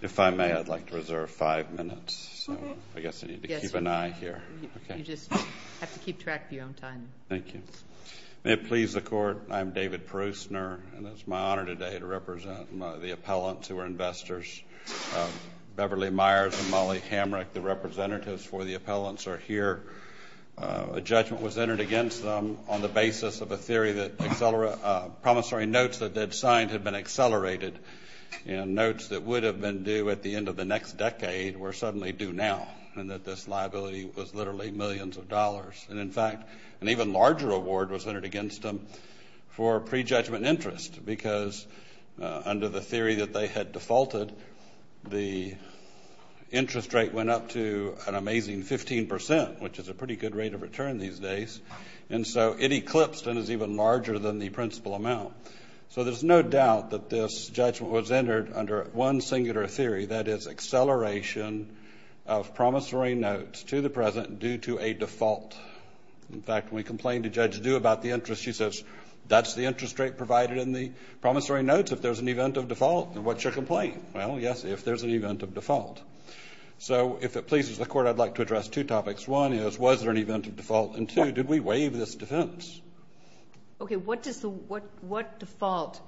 If I may, I'd like to reserve five minutes. So I guess I need to keep an eye here. You just have to keep track of your own time. Thank you. May it please the Court, I'm David Prusner, and it's my honor today to represent the appellants who are investors. Beverly Meyers and Molly Hamrick, the representatives for the appellants, are here. A judgment was entered against them on the basis of a theory that promissory notes that they'd signed had been accelerated and notes that would have been due at the end of the next decade were suddenly due now, and that this liability was literally millions of dollars. And, in fact, an even larger award was entered against them for prejudgment interest because under the theory that they had defaulted, the interest rate went up to an amazing 15%, which is a pretty good rate of return these days. And so it eclipsed and is even larger than the principal amount. So there's no doubt that this judgment was entered under one singular theory, that is acceleration of promissory notes to the present due to a default. In fact, when we complained to Judge Due about the interest, she says, that's the interest rate provided in the promissory notes if there's an event of default. And what's your complaint? Well, yes, if there's an event of default. So if it pleases the Court, I'd like to address two topics. One is, was there an event of default? And two, did we waive this defense? Okay. What does the – what default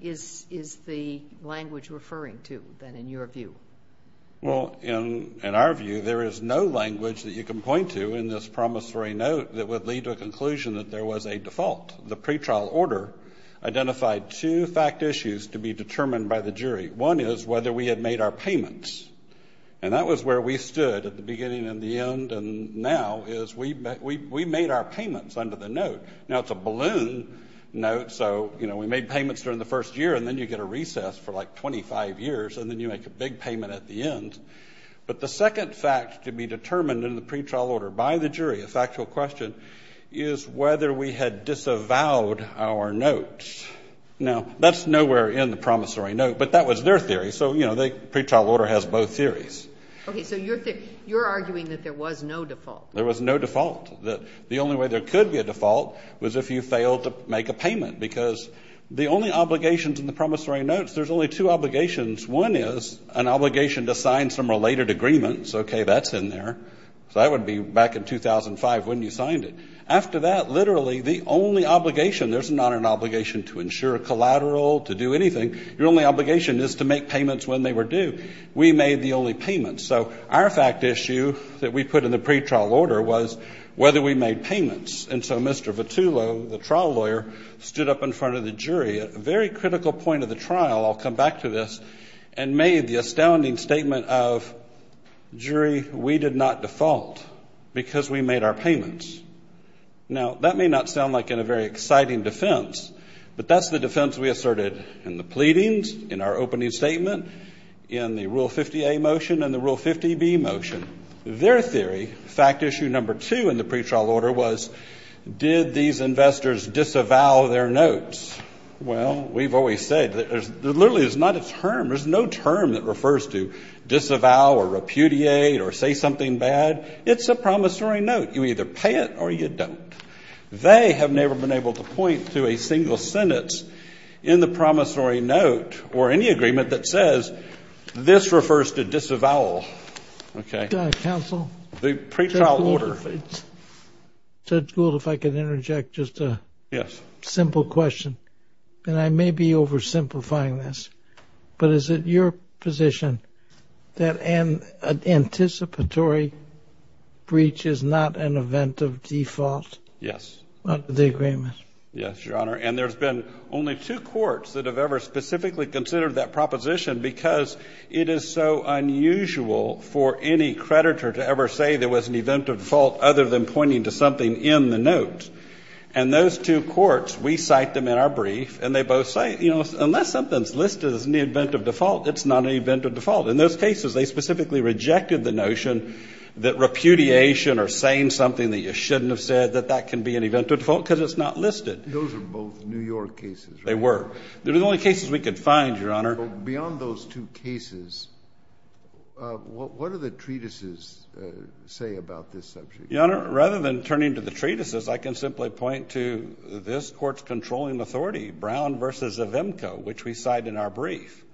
is the language referring to, then, in your view? Well, in our view, there is no language that you can point to in this promissory note that would lead to a conclusion that there was a default. The pretrial order identified two fact issues to be determined by the jury. One is whether we had made our payments. And that was where we stood at the beginning and the end, and now is we made our payments under the note. Now, it's a balloon note, so, you know, we made payments during the first year, and then you get a recess for, like, 25 years, and then you make a big payment at the end. But the second fact to be determined in the pretrial order by the jury, a factual question, is whether we had disavowed our notes. Now, that's nowhere in the promissory note, but that was their theory. So, you know, the pretrial order has both theories. Okay. So you're arguing that there was no default. There was no default. The only way there could be a default was if you failed to make a payment, because the only obligations in the promissory notes, there's only two obligations. One is an obligation to sign some related agreements. Okay. That's in there. So that would be back in 2005 when you signed it. After that, literally, the only obligation, there's not an obligation to insure collateral, to do anything. Your only obligation is to make payments when they were due. We made the only payments. So our fact issue that we put in the pretrial order was whether we made payments. And so Mr. Vitullo, the trial lawyer, stood up in front of the jury at a very critical point of the trial, I'll come back to this, and made the astounding statement of, jury, we did not default because we made our payments. Now, that may not sound like a very exciting defense, but that's the defense we asserted in the pleadings, in our opening statement, in the Rule 50A motion and the Rule 50B motion. Their theory, fact issue number two in the pretrial order was, did these investors disavow their notes? Well, we've always said, literally, there's not a term, there's no term that refers to disavow or repudiate or say something bad. It's a promissory note. You either pay it or you don't. They have never been able to point to a single sentence in the promissory note or any agreement that says this refers to disavow. Counsel? The pretrial order. Judge Gould, if I could interject just a simple question. And I may be oversimplifying this, but is it your position that an anticipatory breach is not an event of default? Yes. The agreement. Yes, Your Honor. And there's been only two courts that have ever specifically considered that proposition because it is so unusual for any creditor to ever say there was an event of default other than pointing to something in the note. And those two courts, we cite them in our brief, and they both say, you know, unless something's listed as an event of default, it's not an event of default. In those cases, they specifically rejected the notion that repudiation or saying something that you shouldn't have said, that that can be an event of default because it's just not listed. Those are both New York cases, right? They were. They were the only cases we could find, Your Honor. Beyond those two cases, what do the treatises say about this subject? Your Honor, rather than turning to the treatises, I can simply point to this court's controlling authority, Brown v. Evimco, which we cite in our brief,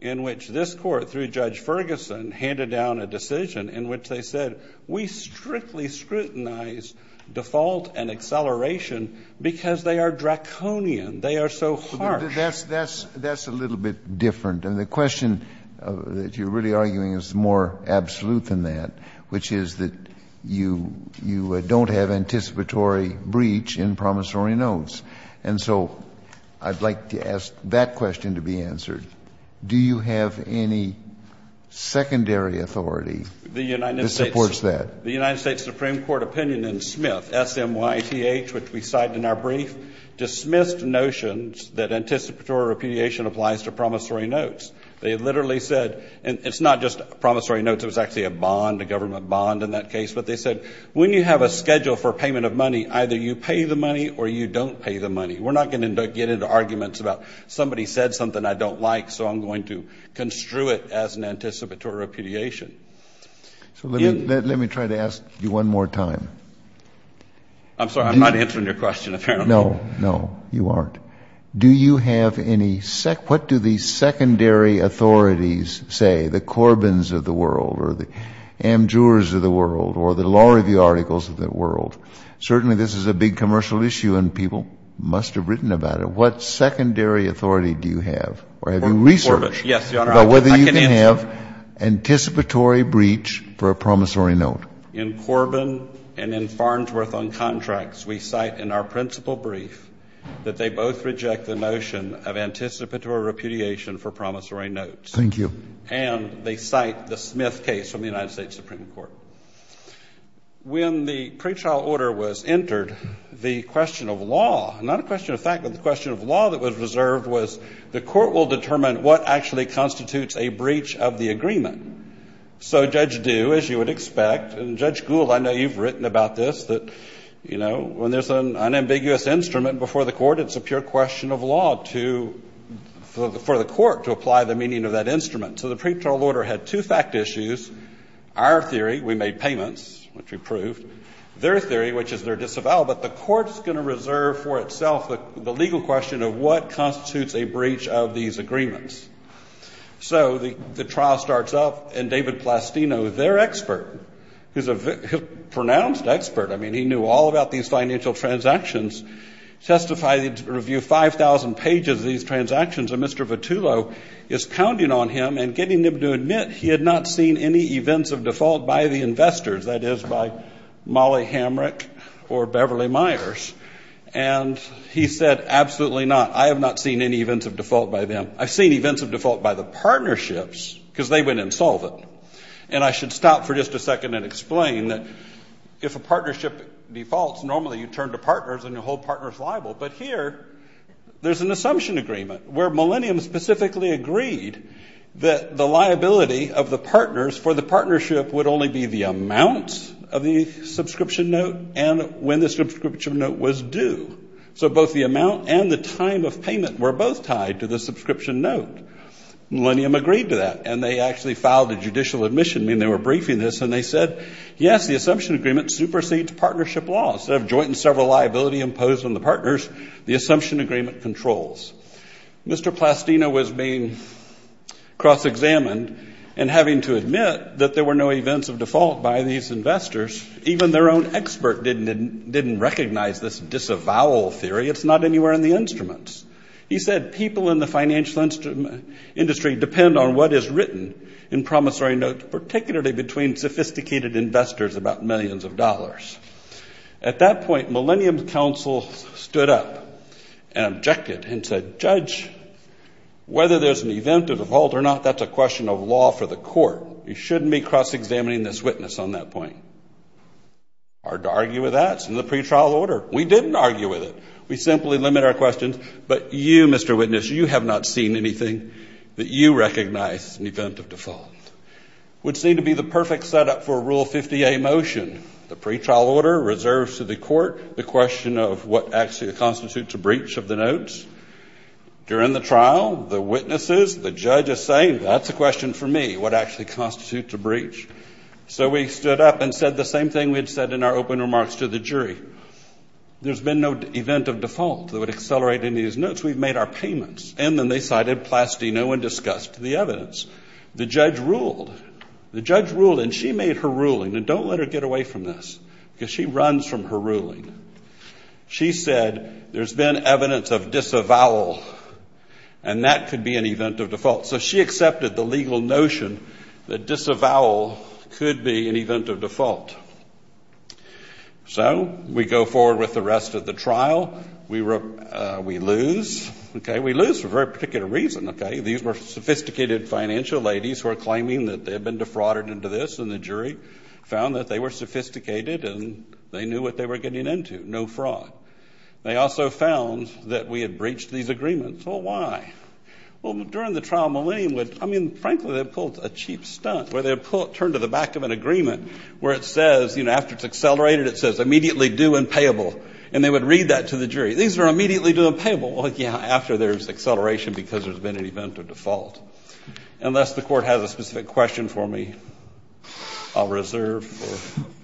in which this court, through Judge Ferguson, handed down a decision in which they said, we strictly scrutinize default and acceleration because they are draconian. They are so harsh. That's a little bit different. And the question that you're really arguing is more absolute than that, which is that you don't have anticipatory breach in promissory notes. And so I'd like to ask that question to be answered. Do you have any secondary authority that supports that? The United States Supreme Court opinion in Smith, S-M-Y-T-H, which we cite in our brief, dismissed notions that anticipatory repudiation applies to promissory notes. They literally said, and it's not just promissory notes. It was actually a bond, a government bond in that case. But they said, when you have a schedule for payment of money, either you pay the money or you don't pay the money. We're not going to get into arguments about somebody said something I don't like, so I'm going to construe it as an anticipatory repudiation. So let me try to ask you one more time. I'm sorry, I'm not answering your question, apparently. No, no, you aren't. Do you have any, what do the secondary authorities say, the Corbin's of the world or the Amjur's of the world or the Law Review articles of the world? Certainly this is a big commercial issue and people must have written about it. What secondary authority do you have or have you researched about whether you can have anticipatory breach for a promissory note? In Corbin and in Farnsworth on contracts, we cite in our principal brief that they both reject the notion of anticipatory repudiation for promissory notes. Thank you. And they cite the Smith case from the United States Supreme Court. When the pretrial order was entered, the question of law, not a question of fact, but the question of law that was reserved was the court will determine what actually constitutes a breach of the agreement. So Judge Due, as you would expect, and Judge Gould, I know you've written about this, that, you know, when there's an unambiguous instrument before the court, it's a pure question of law to, for the court to apply the meaning of that instrument. So the pretrial order had two fact issues. Our theory, we made payments, which we proved. Their theory, which is they're disavowed. But the court's going to reserve for itself the legal question of what constitutes a breach of these agreements. So the trial starts up, and David Plastino, their expert, who's a pronounced expert, I mean, he knew all about these financial transactions, testified, reviewed 5,000 pages of these transactions. And Mr. Vitullo is counting on him and getting him to admit he had not seen any events of default by the investors, that is, by Molly Hamrick or Beverly Myers. And he said, absolutely not. I have not seen any events of default by them. I've seen events of default by the partnerships because they went insolvent. And I should stop for just a second and explain that if a partnership defaults, normally you turn to partners and your whole partner is liable. But here, there's an assumption agreement where Millennium specifically agreed that the liability of the partners for the partnership would only be the amount of the subscription note and when the subscription note was due. So both the amount and the time of payment were both tied to the subscription note. Millennium agreed to that. And they actually filed a judicial admission. I mean, they were briefing this, and they said, yes, the assumption agreement supersedes partnership laws. Instead of joint and several liability imposed on the partners, the assumption agreement controls. Mr. Plastino was being cross-examined and having to admit that there were no events of default by these investors. Even their own expert didn't recognize this disavowal theory. It's not anywhere in the instruments. He said, people in the financial industry depend on what is written in promissory notes, particularly between sophisticated investors about millions of dollars. At that point, Millennium's counsel stood up and objected and said, judge, whether there's an event of default or not, that's a question of law for the court. You shouldn't be cross-examining this witness on that point. Hard to argue with that. It's in the pretrial order. We didn't argue with it. We simply limit our questions. But you, Mr. Witness, you have not seen anything that you recognize as an event of default. It would seem to be the perfect setup for a Rule 50A motion, the pretrial order reserved to the court, the question of what actually constitutes a breach of the notes. During the trial, the witnesses, the judge is saying, that's a question for me, what actually constitutes a breach. So we stood up and said the same thing we had said in our open remarks to the jury. There's been no event of default that would accelerate any of these notes. We've made our payments. And then they cited Plastino and discussed the evidence. The judge ruled. The judge ruled, and she made her ruling. And don't let her get away from this, because she runs from her ruling. She said there's been evidence of disavowal, and that could be an event of default. So she accepted the legal notion that disavowal could be an event of default. So we go forward with the rest of the trial. We lose. We lose for a very particular reason. These were sophisticated financial ladies who are claiming that they had been defrauded into this, and the jury found that they were sophisticated and they knew what they were getting into. No fraud. They also found that we had breached these agreements. Well, why? Well, during the trial, Millennium would, I mean, frankly, they'd pull a cheap stunt, where they'd turn to the back of an agreement where it says, you know, after it's accelerated, it says immediately due and payable. And they would read that to the jury. These are immediately due and payable. Well, yeah, after there's acceleration because there's been an event of default. Unless the Court has a specific question for me, I'll reserve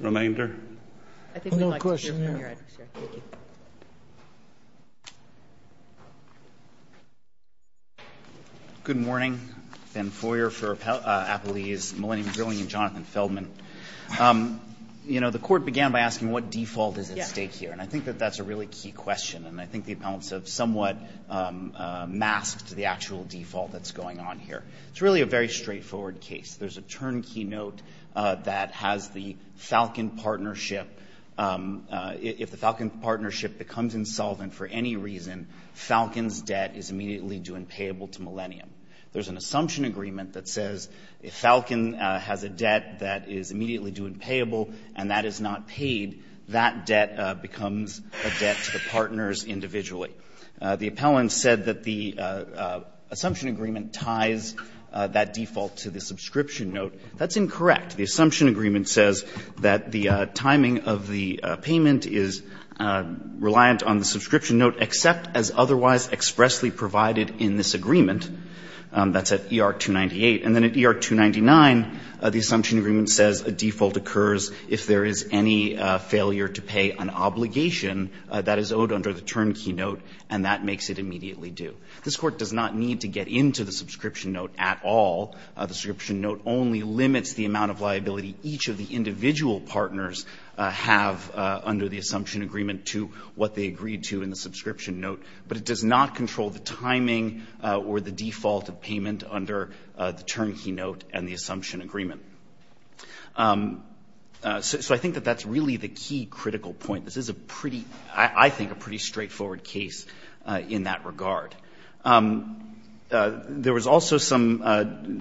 the remainder. I think we'd like to hear from your advocacy. Thank you. Good morning. Ben Foyer for Appellees, Millennium Grilling, and Jonathan Feldman. You know, the Court began by asking what default is at stake here, and I think that that's a really key question, and I think the appellants have somewhat masked the actual default that's going on here. It's really a very straightforward case. There's a turnkey note that has the Falcon Partnership. If the Falcon Partnership becomes insolvent for any reason, Falcon's debt is immediately due and payable to Millennium. There's an assumption agreement that says if Falcon has a debt that is immediately due and payable and that is not paid, that debt becomes a debt to the partners individually. The appellant said that the assumption agreement ties that default to the subscription note. That's incorrect. The assumption agreement says that the timing of the payment is reliant on the subscription note except as otherwise expressly provided in this agreement. That's at ER-298. And then at ER-299, the assumption agreement says a default occurs if there is any failure to pay an obligation that is owed under the turnkey note, and that makes it immediately due. This Court does not need to get into the subscription note at all. The subscription note only limits the amount of liability each of the individual partners have under the assumption agreement to what they agreed to in the subscription note. But it does not control the timing or the default of payment under the turnkey note and the assumption agreement. So I think that that's really the key critical point. This is a pretty, I think, a pretty straightforward case in that regard. There was also some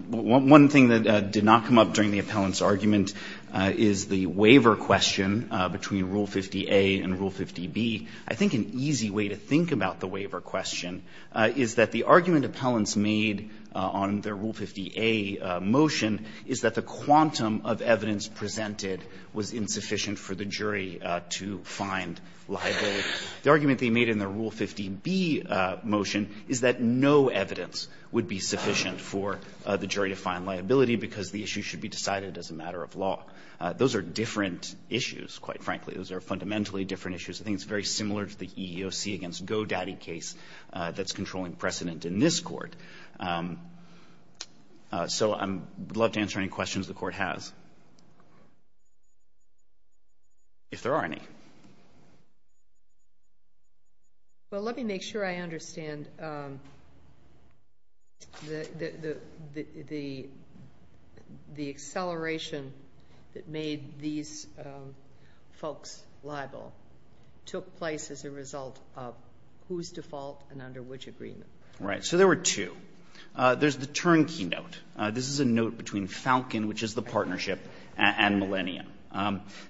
one thing that did not come up during the appellant's argument is the waiver question between Rule 50a and Rule 50b. I think an easy way to think about the waiver question is that the argument appellants made on their Rule 50a motion is that the quantum of evidence presented was insufficient for the jury to find liability. The argument they made in their Rule 50b motion is that no evidence would be sufficient for the jury to find liability because the issue should be decided as a matter of law. Those are different issues, quite frankly. Those are fundamentally different issues. I think it's very similar to the EEOC against Godaddy case that's controlling precedent in this Court. So I would love to answer any questions the Court has, if there are any. Well, let me make sure I understand the acceleration that made these folks liable took place as a result of whose default and under which agreement. Right. So there were two. There's the turnkey note. This is a note between Falcon, which is the partnership, and Millennium.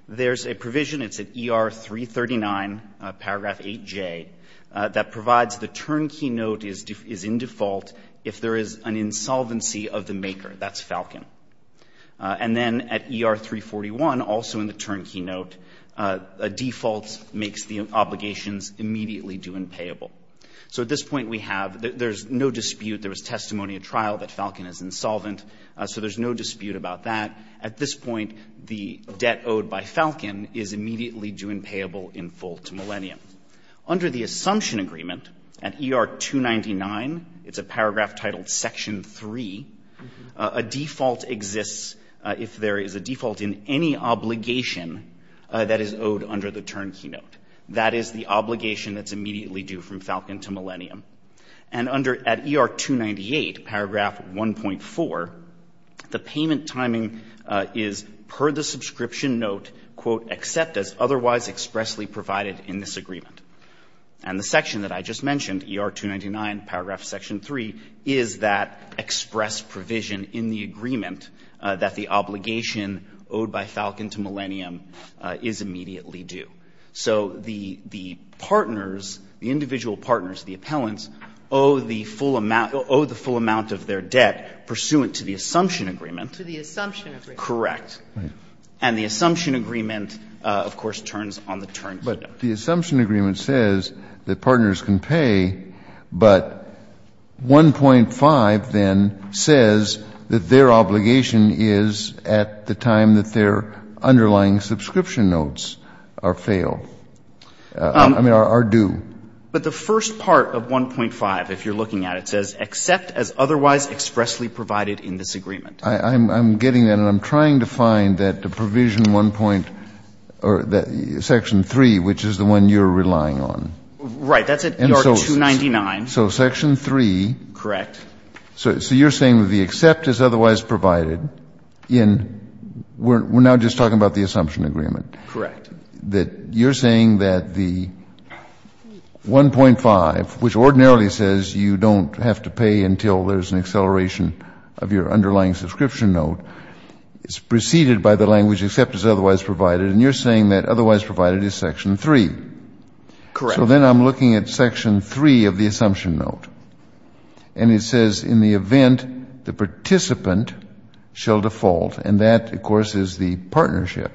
There's a provision, it's at ER 339, paragraph 8J, that provides the turnkey note is in default if there is an insolvency of the maker. That's Falcon. And then at ER 341, also in the turnkey note, a default makes the obligations immediately due and payable. So at this point we have no dispute. There was testimony at trial that Falcon is insolvent. So there's no dispute about that. At this point, the debt owed by Falcon is immediately due and payable in full to Millennium. Under the assumption agreement at ER 299, it's a paragraph titled Section 3, a default exists if there is a default in any obligation that is owed under the turnkey note. That is the obligation that's immediately due from Falcon to Millennium. And under, at ER 298, paragraph 1.4, the payment timing is per the subscription note, quote, except as otherwise expressly provided in this agreement. And the section that I just mentioned, ER 299, paragraph Section 3, is that express provision in the agreement that the obligation owed by Falcon to Millennium is immediately due. So the partners, the individual partners, the appellants, owe the full amount of their debt pursuant to the assumption agreement. To the assumption agreement. Correct. And the assumption agreement, of course, turns on the turnkey note. But the assumption agreement says that partners can pay, but 1.5 then says that their I mean, are due. But the first part of 1.5, if you're looking at it, says except as otherwise expressly provided in this agreement. I'm getting that. And I'm trying to find that the provision 1.0, Section 3, which is the one you're relying on. Right. That's at ER 299. So Section 3. Correct. So you're saying that the except is otherwise provided in we're now just talking about the assumption agreement. Correct. That you're saying that the 1.5, which ordinarily says you don't have to pay until there's an acceleration of your underlying subscription note, is preceded by the language except as otherwise provided. And you're saying that otherwise provided is Section 3. Correct. So then I'm looking at Section 3 of the assumption note. And it says in the event the participant shall default. And that, of course, is the partnership.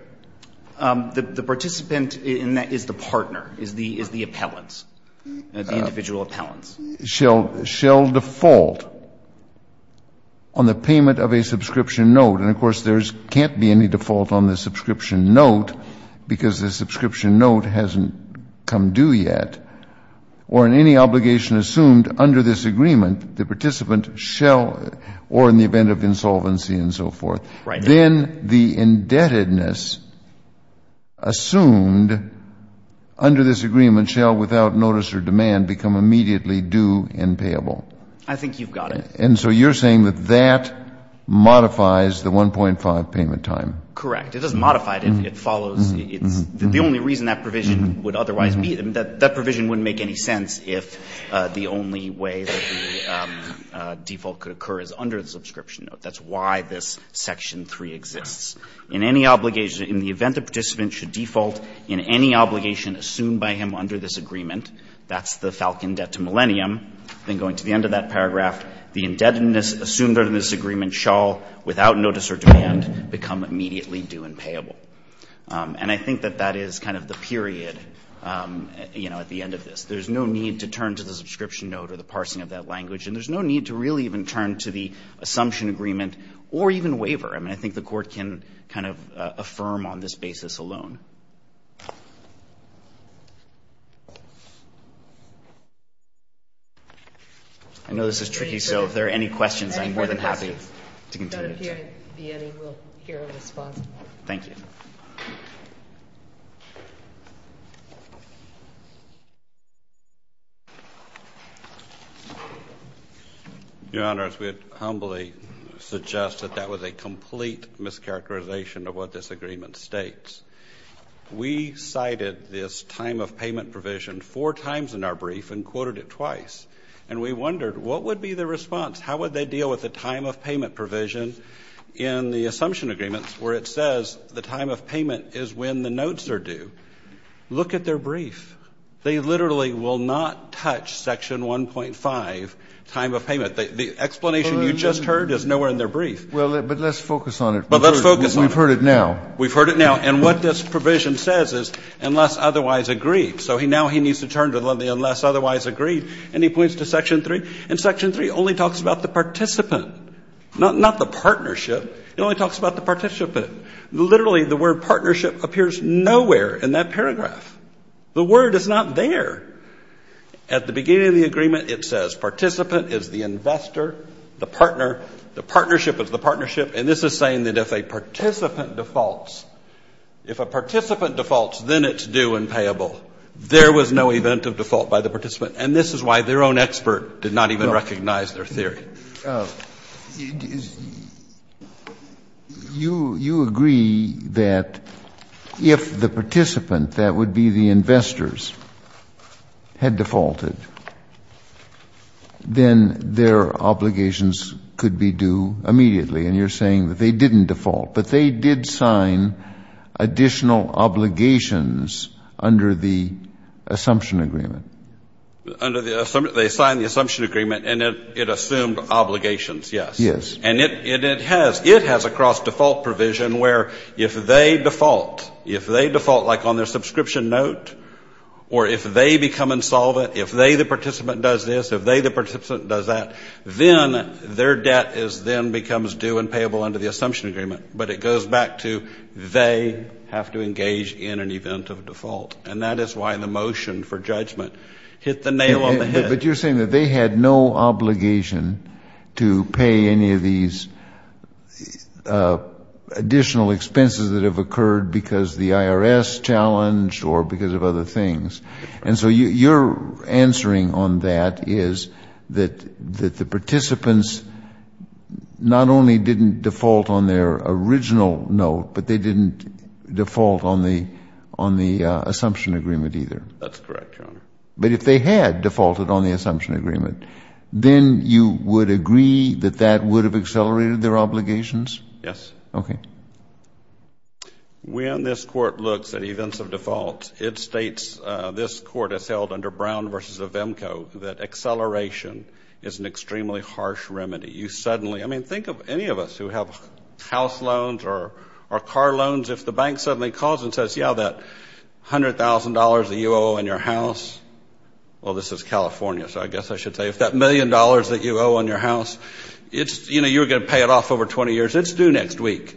The participant in that is the partner, is the appellant, the individual appellant. Shall default on the payment of a subscription note. And, of course, there can't be any default on the subscription note because the subscription note hasn't come due yet. Or in any obligation assumed under this agreement, the participant shall, or in the event of insolvency and so forth. Right. Then the indebtedness assumed under this agreement shall, without notice or demand, become immediately due and payable. I think you've got it. And so you're saying that that modifies the 1.5 payment time. Correct. It doesn't modify it. It follows. It's the only reason that provision would otherwise be. That provision wouldn't make any sense if the only way that the default could occur is under the subscription note. That's why this section 3 exists. In any obligation, in the event the participant should default in any obligation assumed by him under this agreement, that's the falcon debt to millennium. Then going to the end of that paragraph, the indebtedness assumed under this agreement shall, without notice or demand, become immediately due and payable. And I think that that is kind of the period, you know, at the end of this. There's no need to turn to the subscription note or the parsing of that language. And there's no need to really even turn to the assumption agreement or even waiver. I mean, I think the court can kind of affirm on this basis alone. I know this is tricky, so if there are any questions, I'm more than happy to continue. If there be any, we'll hear a response. Thank you. Your Honors, we humbly suggest that that was a complete mischaracterization of what this agreement states. We cited this time of payment provision four times in our brief and quoted it twice. And we wondered, what would be the response? How would they deal with the time of payment provision in the assumption agreements where it says the time of payment is when the notes are due? Look at their brief. They literally will not touch section 1.5, time of payment. The explanation you just heard is nowhere in their brief. Well, but let's focus on it. Well, let's focus on it. We've heard it now. We've heard it now. And what this provision says is unless otherwise agreed. So now he needs to turn to the unless otherwise agreed, and he points to section 3, and section 3 only talks about the participant, not the partnership. It only talks about the participant. Literally, the word partnership appears nowhere in that paragraph. The word is not there. At the beginning of the agreement, it says participant is the investor, the partner, the partnership is the partnership, and this is saying that if a participant defaults, if a participant defaults, then it's due and payable. There was no event of default by the participant. And this is why their own expert did not even recognize their theory. You agree that if the participant, that would be the investors, had defaulted, then their obligations could be due immediately, and you're saying that they didn't default, but they did sign additional obligations under the assumption agreement. They signed the assumption agreement, and it assumed obligations, yes. Yes. And it has a cross-default provision where if they default, if they default like on their subscription note, or if they become insolvent, if they, the participant, does this, if they, the participant, does that, then their debt is then becomes due and payable under the assumption agreement. But it goes back to they have to engage in an event of default. And that is why the motion for judgment hit the nail on the head. But you're saying that they had no obligation to pay any of these additional expenses that have occurred because the IRS challenged or because of other things. And so you're answering on that is that the participants not only didn't default on their original note, but they didn't default on the assumption agreement either. That's correct, Your Honor. But if they had defaulted on the assumption agreement, then you would agree that that would have accelerated their obligations? Yes. Okay. When this Court looks at events of default, it states, this Court has held under Brown v. Vemko, that acceleration is an extremely harsh remedy. You suddenly, I mean, think of any of us who have house loans or car loans. If the bank suddenly calls and says, yeah, that $100,000 that you owe in your house, well, this is California, so I guess I should say, if that million dollars that you owe in your house, it's, you know, you're going to pay it off over 20 years. It's due next week.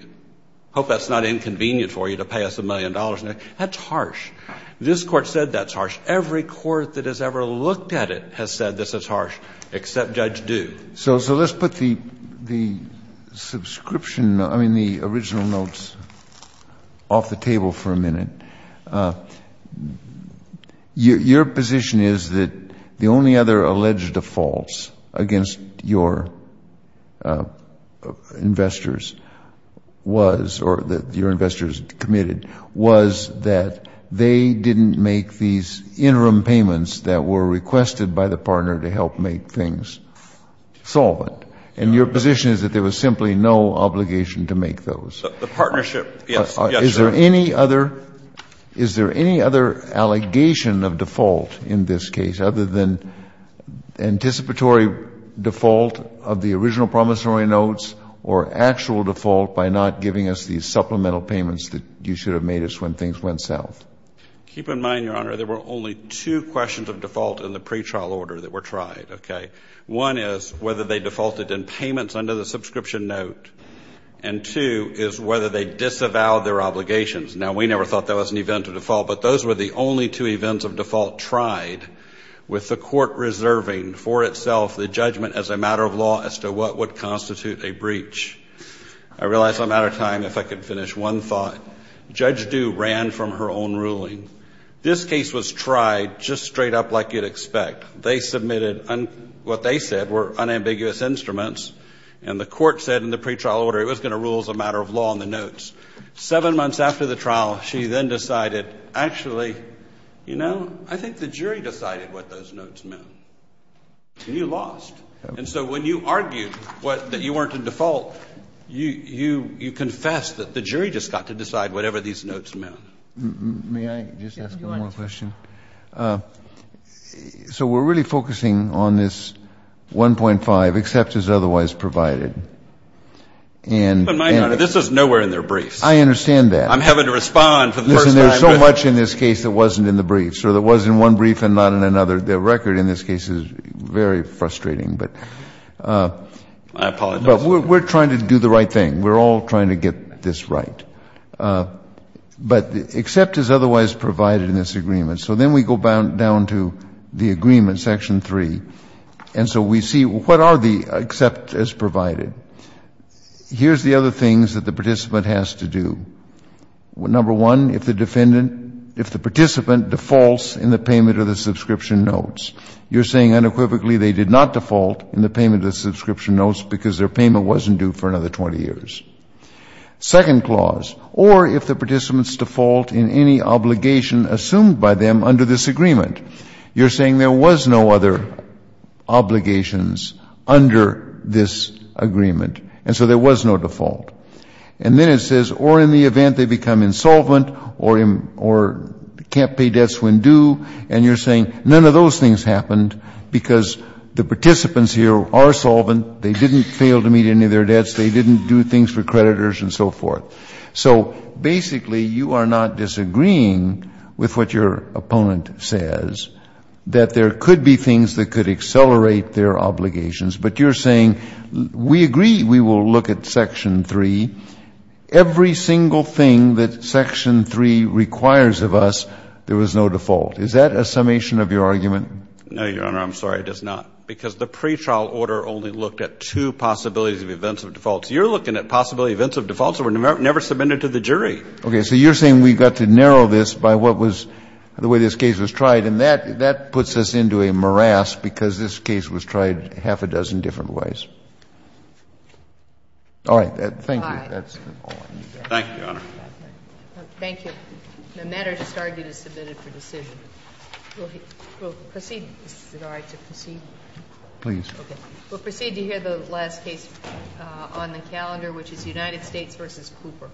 Hope that's not inconvenient for you to pay us a million dollars next week. That's harsh. This Court said that's harsh. Every Court that has ever looked at it has said this is harsh, except Judge Due. So let's put the subscription, I mean, the original notes off the table for a minute. Your position is that the only other alleged defaults against your investors was, or that your investors committed, was that they didn't make these interim payments that were requested by the partner to help make things solvent? And your position is that there was simply no obligation to make those? The partnership, yes. Yes, Your Honor. Is there any other allegation of default in this case other than anticipatory default of the original promissory notes or actual default by not giving us these supplemental payments that you should have made us when things went south? Keep in mind, Your Honor, there were only two questions of default in the pretrial order that were tried, okay? One is whether they defaulted in payments under the subscription note, and two is whether they disavowed their obligations. Now, we never thought that was an event of default, but those were the only two events of default tried with the Court reserving for itself the judgment as a matter of law as to what would constitute a breach. I realize I'm out of time. If I could finish one thought. Judge Due ran from her own ruling. This case was tried just straight up like you'd expect. They submitted what they said were unambiguous instruments, and the Court said in the pretrial order it was going to rule as a matter of law on the notes. Seven months after the trial, she then decided, actually, you know, I think the jury decided what those notes meant, and you lost. And so when you argued that you weren't in default, you confessed that the jury just got to decide whatever these notes meant. May I just ask one more question? So we're really focusing on this 1.5, except as otherwise provided. But, Your Honor, this is nowhere in their briefs. I understand that. I'm having to respond for the first time. Listen, there's so much in this case that wasn't in the briefs, or that was in one brief and not in another. The record in this case is very frustrating, but we're trying to do the right thing. We're all trying to get this right. But except as otherwise provided in this agreement. So then we go down to the agreement, section 3, and so we see what are the except as provided. Here's the other things that the participant has to do. Number one, if the defendant, if the participant defaults in the payment of the subscription notes. You're saying unequivocally they did not default in the payment of the subscription notes because their payment wasn't due for another 20 years. Second clause, or if the participant's default in any obligation assumed by them under this agreement. You're saying there was no other obligations under this agreement. And so there was no default. And then it says, or in the event they become insolvent or can't pay debts when due. And you're saying none of those things happened because the participants here are solvent. They didn't fail to meet any of their debts. They didn't do things for creditors and so forth. So basically you are not disagreeing with what your opponent says. That there could be things that could accelerate their obligations. But you're saying we agree we will look at section 3. Every single thing that section 3 requires of us, there was no default. Is that a summation of your argument? No, Your Honor. I'm sorry. It is not. Because the pretrial order only looked at two possibilities of events of defaults. You're looking at possibility of events of defaults that were never submitted to the jury. Okay. So you're saying we got to narrow this by what was the way this case was tried. And that puts us into a morass because this case was tried half a dozen different ways. All right. Thank you. Thank you, Your Honor. Thank you. The matter just argued is submitted for decision. We'll proceed. Is it all right to proceed? Please. Okay. We'll proceed to hear the last case on the calendar, which is United States v. Cooper.